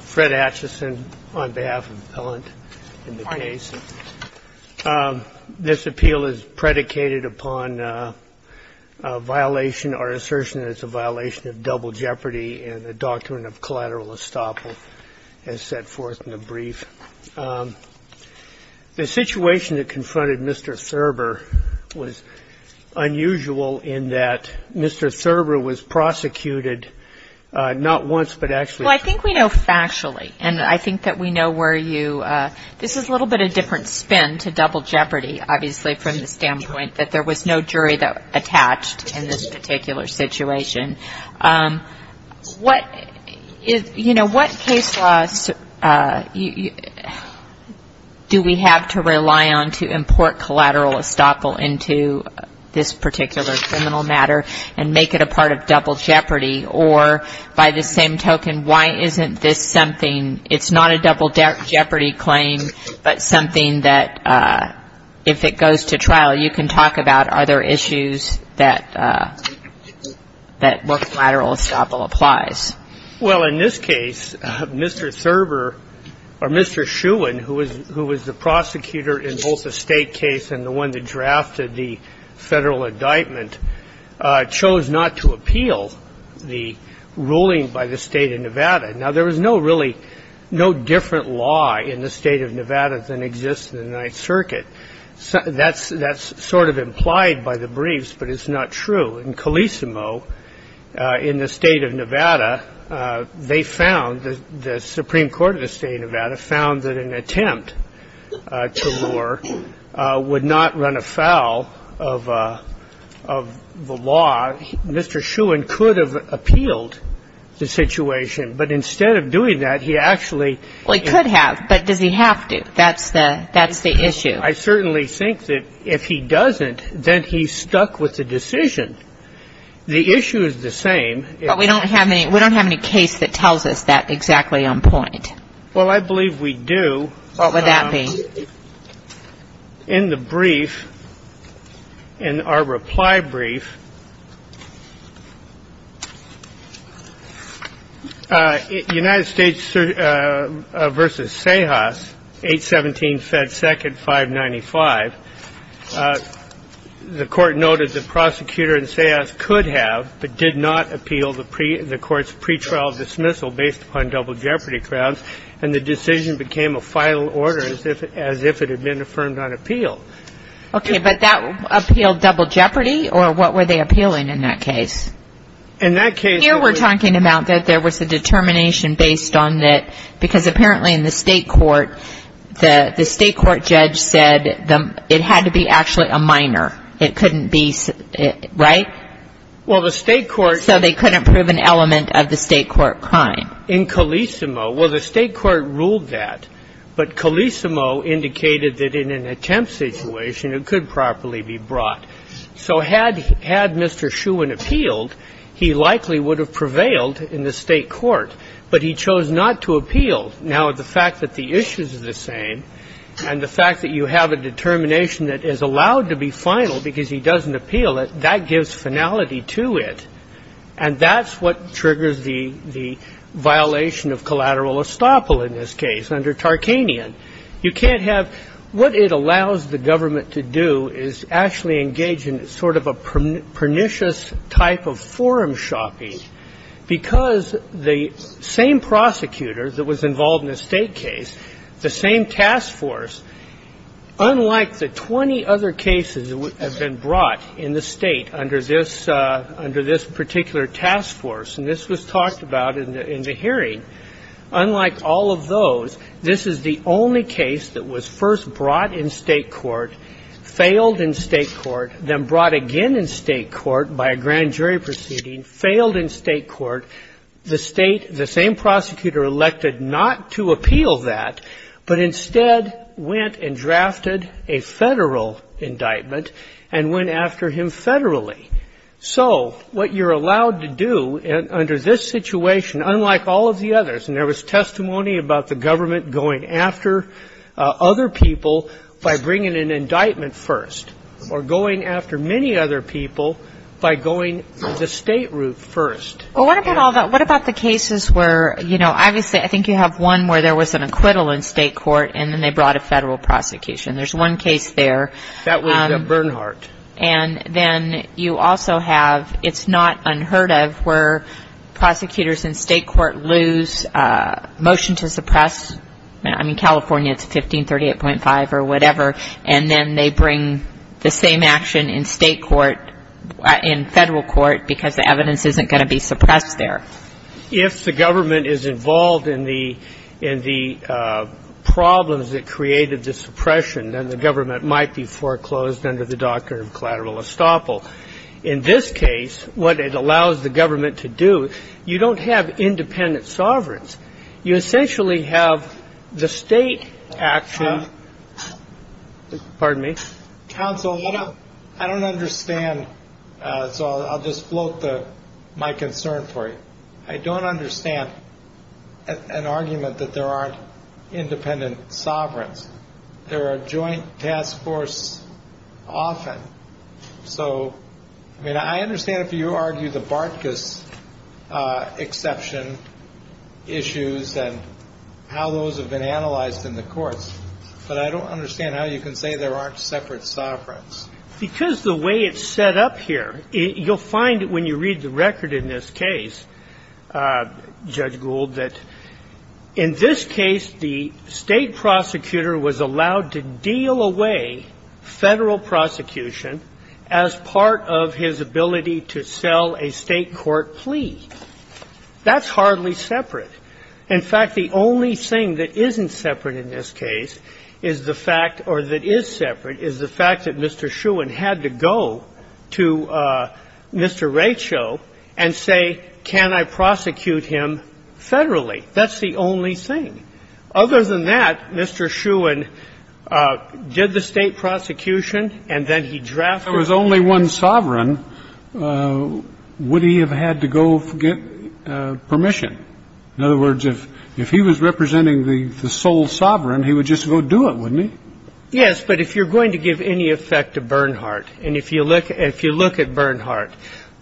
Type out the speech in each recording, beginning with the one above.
Fred Atchison on behalf of the appellant in the case. This appeal is predicated upon a violation or assertion that it's a violation of double jeopardy in the Doctrine of Collateral Estoppel as set forth in the brief. The situation that confronted Mr. Thurber was unusual in that Mr. Thurber was prosecuted not once but actually twice. Well, I think we know factually, and I think that we know where you – this is a little bit a different spin to double jeopardy, obviously, from the standpoint that there was no jury attached in this particular situation. What – you know, what case laws do we have to rely on to import collateral estoppel into this particular criminal matter and make it a part of double jeopardy? Or by the same token, why isn't this something – it's not a double jeopardy claim, but something that, if it goes to trial, you can talk about other issues that work collateral estoppel applies. Well, in this case, Mr. Thurber – or Mr. Shewan, who was the prosecutor in both the State case and the one that drafted the Federal indictment, chose not to appeal the ruling by the State of Nevada. Now, there was no really – no different law in the State of Nevada than exists in the Ninth Circuit. That's sort of implied by the briefs, but it's not true. In Colissimo, in the State of Nevada, they found – the Supreme Court of the State of Nevada found that an attempt to lure would not run afoul of the law. Mr. Shewan could have appealed the situation, but instead of doing that, he actually – Well, he could have, but does he have to? That's the issue. I certainly think that if he doesn't, then he's stuck with the decision. The issue is the same. But we don't have any – we don't have any case that tells us that exactly on point. Well, I believe we do. What would that be? In the brief, in our reply brief, United States v. Sejas, 817, Fed 2nd, 595, the court noted the prosecutor in Sejas could have but did not appeal the court's pretrial dismissal based upon double jeopardy grounds, and the decision became a final order as if it had been affirmed on appeal. Okay, but that appealed double jeopardy, or what were they appealing in that case? In that case – Here we're talking about that there was a determination based on that – because apparently in the state court, the state court judge said it had to be actually a minor. It couldn't be – right? Well, the state court – So they couldn't prove an element of the state court crime. In Colissimo – well, the state court ruled that. But Colissimo indicated that in an attempt situation, it could properly be brought. So had Mr. Shewan appealed, he likely would have prevailed in the state court. But he chose not to appeal. Now, the fact that the issue is the same and the fact that you have a determination that is allowed to be final because he doesn't appeal it, that gives finality to it. And that's what triggers the violation of collateral estoppel in this case under Tarkanian. You can't have – what it allows the government to do is actually engage in sort of a pernicious type of forum shopping because the same prosecutor that was involved in the state case, the same task force, unlike the 20 other cases that have been brought in the State under this particular task force, and this was talked about in the hearing, unlike all of those, this is the only case that was first brought in state court, failed in state court, then brought again in state court by a grand jury proceeding, failed in state court. The State, the same prosecutor elected not to appeal that, but instead went and drafted a Federal indictment and went after him Federally. So what you're allowed to do under this situation, unlike all of the others, and there was testimony about the government going after other people by bringing an indictment first or going after many other people by going the State route first. Well, what about all the – what about the cases where, you know, obviously, I think you have one where there was an acquittal in state court and then they brought a Federal prosecution. There's one case there. That was Bernhardt. And then you also have – it's not unheard of where prosecutors in state court lose motion to suppress. I mean, California, it's 1538.5 or whatever, and then they bring the same action in state court, in Federal court, because the evidence isn't going to be suppressed there. If the government is involved in the problems that created the suppression, then the government might be foreclosed under the doctrine of collateral estoppel. In this case, what it allows the government to do, you don't have independent sovereigns. You essentially have the State action – pardon me. Counsel, I don't understand. So I'll just float my concern for you. I don't understand an argument that there aren't independent sovereigns. There are joint task forces often. So, I mean, I understand if you argue the Bartkus exception issues and how those have been analyzed in the courts, but I don't understand how you can say there aren't separate sovereigns. Because the way it's set up here, you'll find when you read the record in this case, Judge Gould, that in this case the State prosecutor was allowed to deal away Federal prosecution as part of his ability to sell a State court plea. That's hardly separate. In fact, the only thing that isn't separate in this case is the fact or that is separate is the fact that Mr. Shewan had to go to Mr. Racho and say, can I prosecute him Federally? That's the only thing. Other than that, Mr. Shewan did the State prosecution and then he drafted the case. But if he were the sole sovereign, would he have had to go get permission? In other words, if he was representing the sole sovereign, he would just go do it, wouldn't he? Yes, but if you're going to give any effect to Bernhardt, and if you look at Bernhardt,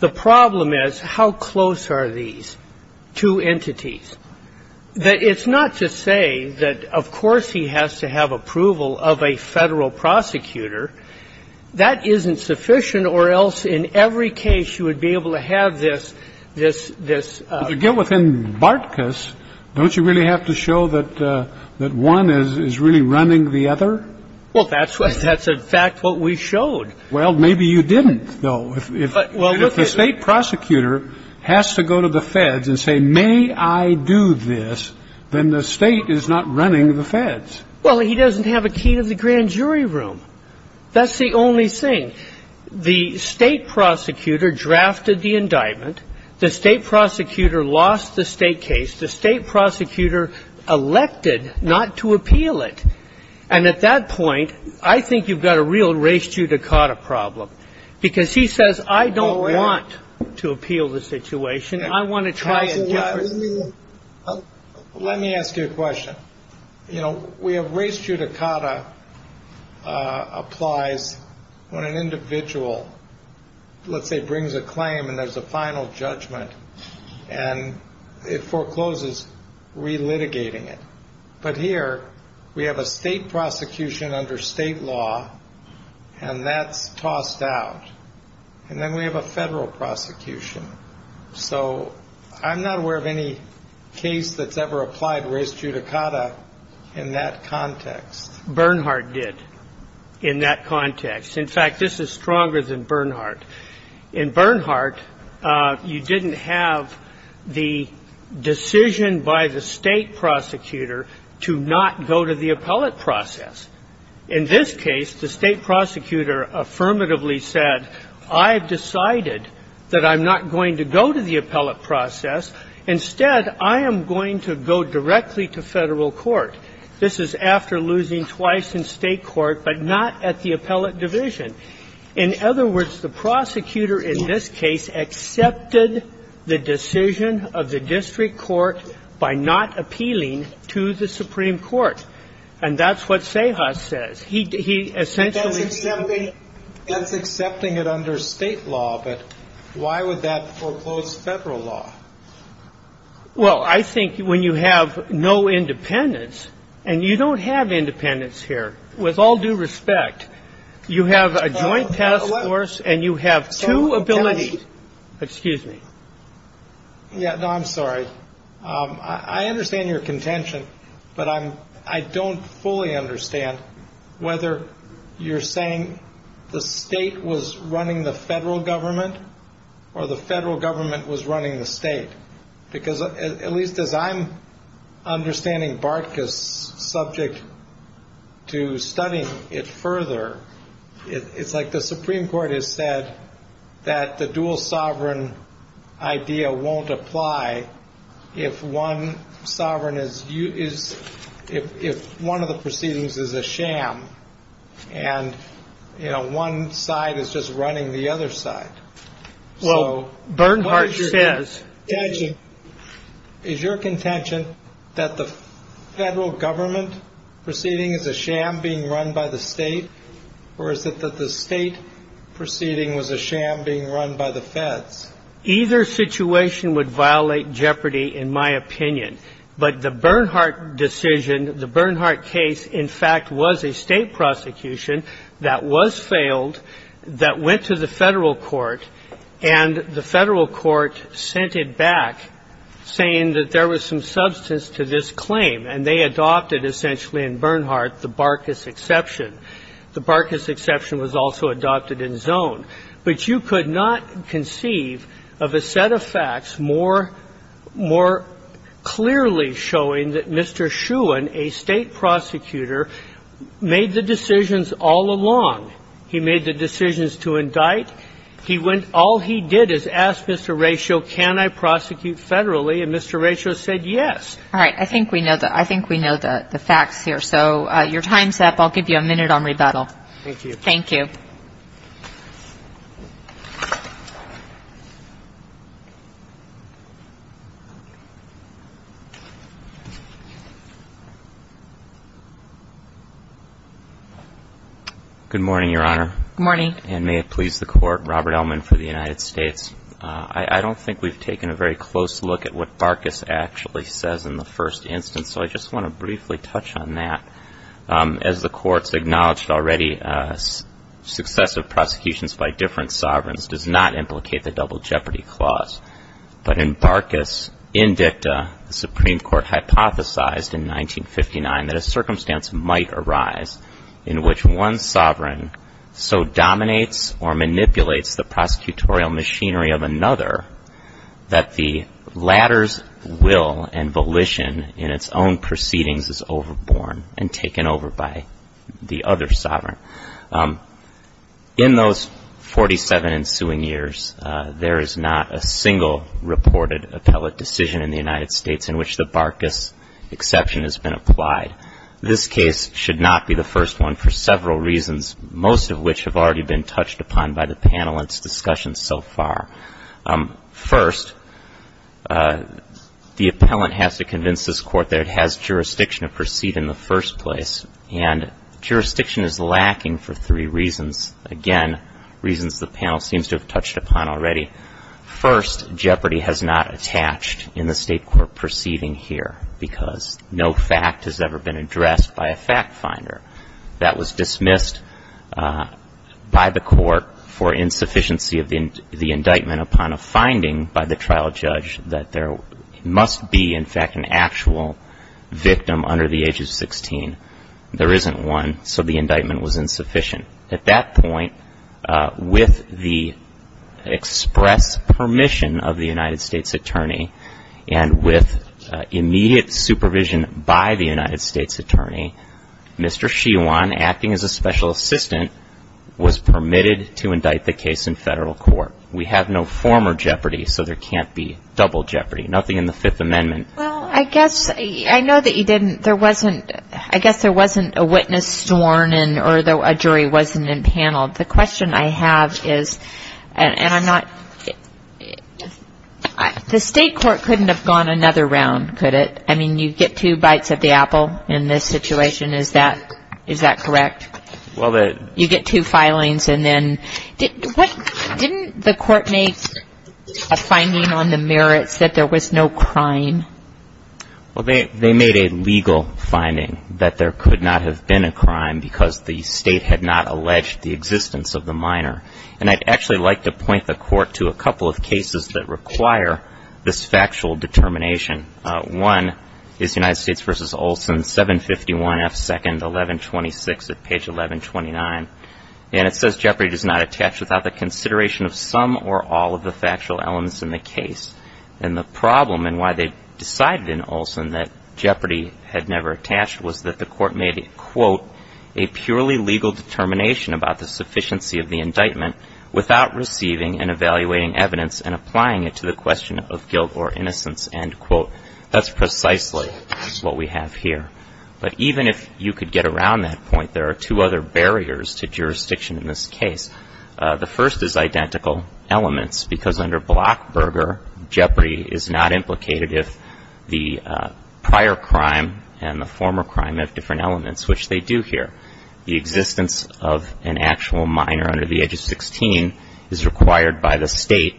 the problem is how close are these two entities? It's not to say that, of course, he has to have approval of a Federal prosecutor. That isn't sufficient or else in every case you would be able to have this, this, this. But to get within Bartkus, don't you really have to show that one is really running the other? Well, that's in fact what we showed. Well, maybe you didn't, though. But if the State prosecutor has to go to the Feds and say, may I do this, then the State is not running the Feds. Well, he doesn't have a key to the grand jury room. That's the only thing. The State prosecutor drafted the indictment. The State prosecutor lost the State case. The State prosecutor elected not to appeal it. And at that point, I think you've got a real res judicata problem, because he says, I don't want to appeal the situation. I want to try a different. Let me ask you a question. You know, we have res judicata applies when an individual, let's say, brings a claim and there's a final judgment and it forecloses relitigating it. But here we have a State prosecution under State law, and that's tossed out. And then we have a Federal prosecution. So I'm not aware of any case that's ever applied res judicata in that context. Bernhardt did in that context. In fact, this is stronger than Bernhardt. In Bernhardt, you didn't have the decision by the State prosecutor to not go to the appellate process. In this case, the State prosecutor affirmatively said, I have decided that I'm not going to go to the appellate process. Instead, I am going to go directly to Federal court. This is after losing twice in State court, but not at the appellate division. In other words, the prosecutor in this case accepted the decision of the District Court by not appealing to the Supreme Court. And that's what CEJAS says. He essentially ---- That's accepting it under State law, but why would that foreclose Federal law? Well, I think when you have no independence, and you don't have independence here, with all due respect, you have a joint task force and you have two abilities. Excuse me. Yeah. No, I'm sorry. I understand your contention. But I'm I don't fully understand whether you're saying the state was running the federal government or the federal government was running the state. Because at least as I'm understanding, BARTCA is subject to studying it further. It's like the Supreme Court has said that the dual sovereign idea won't apply if one sovereign is you is if one of the proceedings is a sham. And, you know, one side is just running the other side. Well, Bernhardt says is your contention that the federal government proceeding is a sham being run by the state or is it that the state proceeding was a sham being run by the feds? Either situation would violate jeopardy, in my opinion. But the Bernhardt decision, the Bernhardt case, in fact, was a state prosecution that was failed, that went to the federal court, and the federal court sent it back saying that there was some substance to this claim. And they adopted essentially in Bernhardt the BARTCA's exception. The BARTCA's exception was also adopted in Zone. But you could not conceive of a set of facts more clearly showing that Mr. Schuin, a state prosecutor, made the decisions all along. He made the decisions to indict. He went all he did is ask Mr. Rachel, can I prosecute federally? And Mr. Rachel said yes. All right. I think we know the facts here. So your time's up. I'll give you a minute on rebuttal. Thank you. Thank you. Thank you. Good morning, Your Honor. Good morning. And may it please the Court, Robert Ellman for the United States. I don't think we've taken a very close look at what BARTCA's actually says in the first instance, so I just want to briefly touch on that. As the Court's acknowledged already, successive prosecutions by different sovereigns does not implicate the double jeopardy clause. But in BARTCA's indicta, the Supreme Court hypothesized in 1959 that a circumstance might arise in which one sovereign so dominates or manipulates the prosecutorial machinery of another that the latter's will and volition in its own proceedings is overborne and taken over by the other sovereign. In those 47 ensuing years, there is not a single reported appellate decision in the United States in which the BARTCA's exception has been applied. This case should not be the first one for several reasons, most of which have already been touched upon by the panel and its discussion so far. First, the appellant has to convince this Court that it has jurisdiction to proceed in the first place, and jurisdiction is lacking for three reasons, again, reasons the panel seems to have touched upon already. First, jeopardy has not attached in the State Court proceeding here because no fact has ever been addressed by a fact finder. That was dismissed by the Court for insufficiency of the indictment upon a finding by the trial judge that there must be, in fact, an actual victim under the age of 16. There isn't one, so the indictment was insufficient. At that point, with the express permission of the United States Attorney and with immediate supervision by the United States Attorney, Mr. Shewan, acting as a special assistant, was permitted to indict the case in Federal Court. We have no former jeopardy, so there can't be double jeopardy, nothing in the Fifth Amendment. Well, I guess, I know that you didn't, there wasn't, I guess there wasn't a witness sworn in or a jury wasn't impaneled. The question I have is, and I'm not, the State Court couldn't have gone another round, could it? I mean, you get two bites of the apple in this situation, is that correct? Well, that Well, they made a legal finding that there could not have been a crime because the State had not alleged the existence of the minor. And I'd actually like to point the Court to a couple of cases that require this factual determination. One is United States v. Olson, 751 F. 2nd, 1126 at page 1129. And it says jeopardy does not attach without the consideration of some or all of the factual elements in the case. And the problem, and why they decided in Olson that jeopardy had never attached, was that the Court made a, quote, a purely legal determination about the sufficiency of the indictment without receiving and evaluating evidence and applying it to the question of guilt or innocence, end quote. That's precisely what we have here. But even if you could get around that point, there are two other barriers to jurisdiction in this case. The first is identical elements, because under Blockberger, jeopardy is not implicated if the prior crime and the former crime have different elements, which they do here. The existence of an actual minor under the age of 16 is required by the State.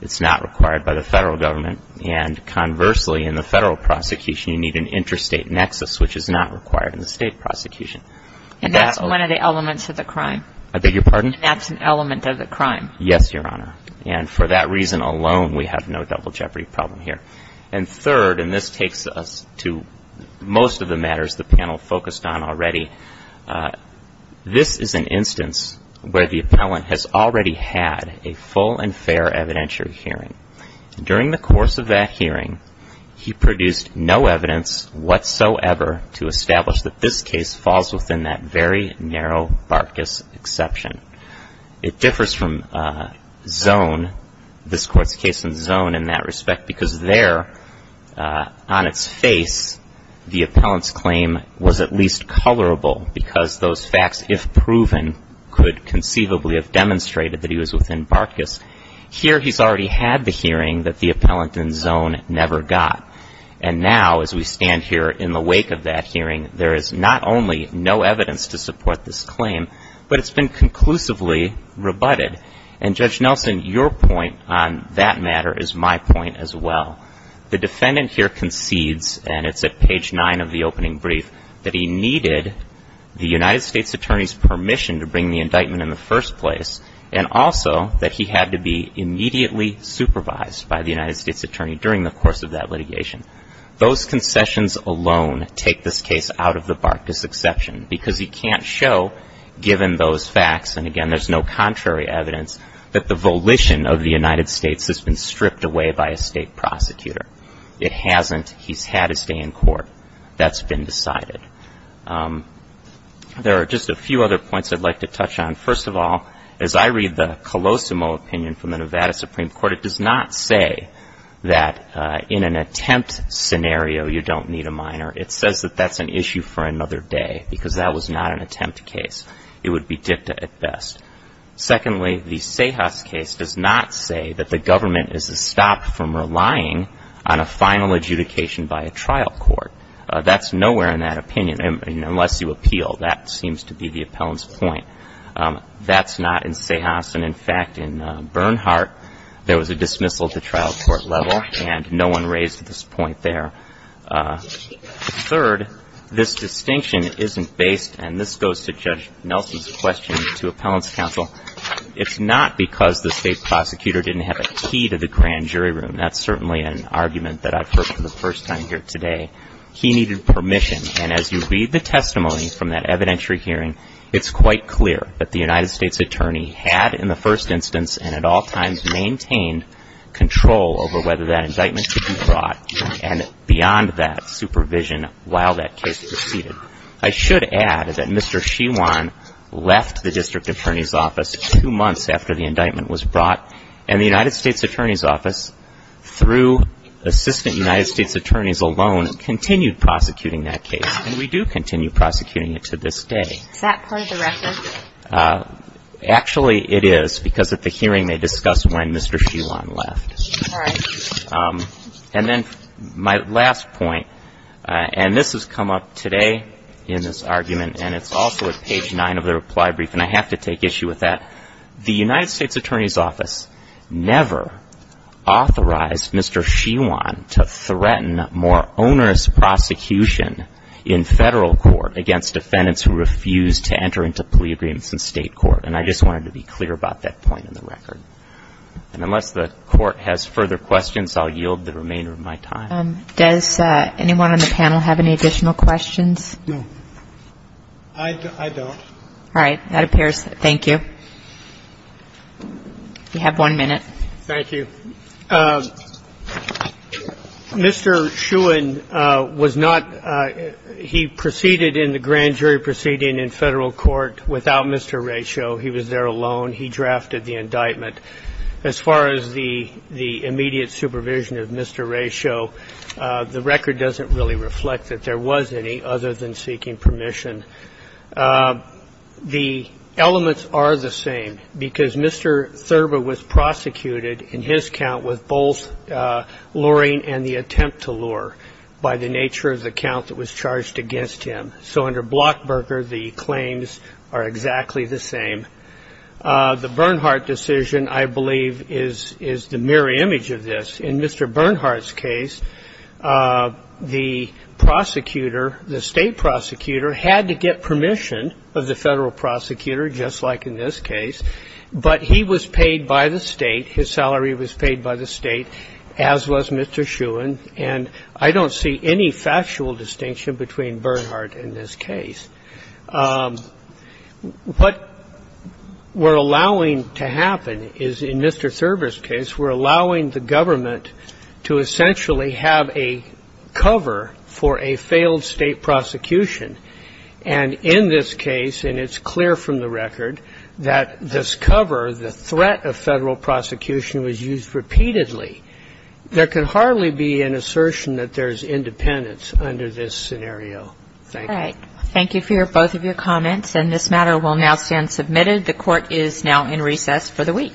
It's not required by the Federal Government. And conversely, in the Federal prosecution, you need an interstate nexus, which is not required in the State prosecution. And that's one of the elements of the crime? I beg your pardon? That's an element of the crime? Yes, Your Honor. And for that reason alone, we have no double jeopardy problem here. And third, and this takes us to most of the matters the panel focused on already, this is an instance where the appellant has already had a full and fair evidentiary hearing. During the course of that hearing, he produced no evidence whatsoever to establish that this case falls within that very narrow Bartkus exception. It differs from Zone, this Court's case in Zone in that respect, because there, on its face, the appellant's claim was at least colorable because those facts, if proven, could conceivably have demonstrated that he was within Bartkus. Here, he's already had the hearing that the appellant in Zone never got. And now, as we stand here in the wake of that hearing, there is not only no evidence to support this claim, but it's been conclusively rebutted. And, Judge Nelson, your point on that matter is my point as well. The defendant here concedes, and it's at page 9 of the opening brief, that he needed the United States Attorney's permission to bring the indictment in the first place, and also that he had to be immediately supervised by the United States Attorney during the course of that litigation. Those concessions alone take this case out of the Bartkus exception, because he can't show, given those facts, and again, there's no contrary evidence, that the volition of the United States has been stripped away by a state prosecutor. It hasn't. He's had his day in court. That's been decided. There are just a few other points I'd like to touch on. First of all, as I read the Colosimo opinion from the Nevada Supreme Court, it does not say that in an attempt scenario you don't need a minor. It says that that's an issue for another day, because that was not an attempt case. It would be dicta at best. Secondly, the Sejas case does not say that the government is to stop from relying on a final adjudication by a trial court. That's nowhere in that opinion, unless you appeal. That seems to be the appellant's point. That's not in Sejas, and in fact, in Bernhardt, there was a dismissal at the trial court level, and no one raised this point there. Third, this distinction isn't based, and this goes to Judge Nelson's question to appellant's counsel, it's not because the state prosecutor didn't have a key to the grand jury room. That's certainly an argument that I've heard for the first time here today. He needed permission, and as you read the testimony from that evidentiary hearing, it's quite clear that the United States attorney had in the first instance and at all times maintained control over whether that indictment could be brought and beyond that supervision while that case proceeded. I should add that Mr. Shewan left the district attorney's office two months after the indictment was brought, and the United States attorney's office, through assistant United States attorneys alone, continued prosecuting that case, and we do continue prosecuting it to this day. Is that part of the record? Actually, it is, because at the hearing they discussed when Mr. Shewan left. All right. And then my last point, and this has come up today in this argument, and it's also at page nine of the reply brief, and I have to take issue with that. The United States attorney's office never authorized Mr. Shewan to threaten more onerous prosecution in federal court against defendants who refused to enter into plea agreements in state court, and I just wanted to be clear about that point in the record. And unless the court has further questions, I'll yield the remainder of my time. Does anyone on the panel have any additional questions? No. I don't. All right. That appears. Thank you. You have one minute. Thank you. Mr. Shewan was not he proceeded in the grand jury proceeding in federal court without Mr. Raychaud. He was there alone. He drafted the indictment. As far as the immediate supervision of Mr. Raychaud, the record doesn't really reflect that there was any other than seeking permission. The elements are the same because Mr. Thurber was prosecuted in his count with both luring and the attempt to lure by the nature of the count that was charged against him. So under Blockberger, the claims are exactly the same. The Bernhardt decision, I believe, is the mirror image of this. In Mr. Bernhardt's case, the prosecutor, the state prosecutor, had to get permission of the federal prosecutor, just like in this case. But he was paid by the state. His salary was paid by the state, as was Mr. Shewan. And I don't see any factual distinction between Bernhardt in this case. What we're allowing to happen is, in Mr. Thurber's case, we're allowing the government to essentially have a cover for a failed state prosecution. And in this case, and it's clear from the record, that this cover, the threat of federal prosecution, was used repeatedly. There can hardly be an assertion that there's independence under this scenario. Thank you. All right. Thank you for both of your comments. And this matter will now stand submitted. The Court is now in recess for the week. Thank you.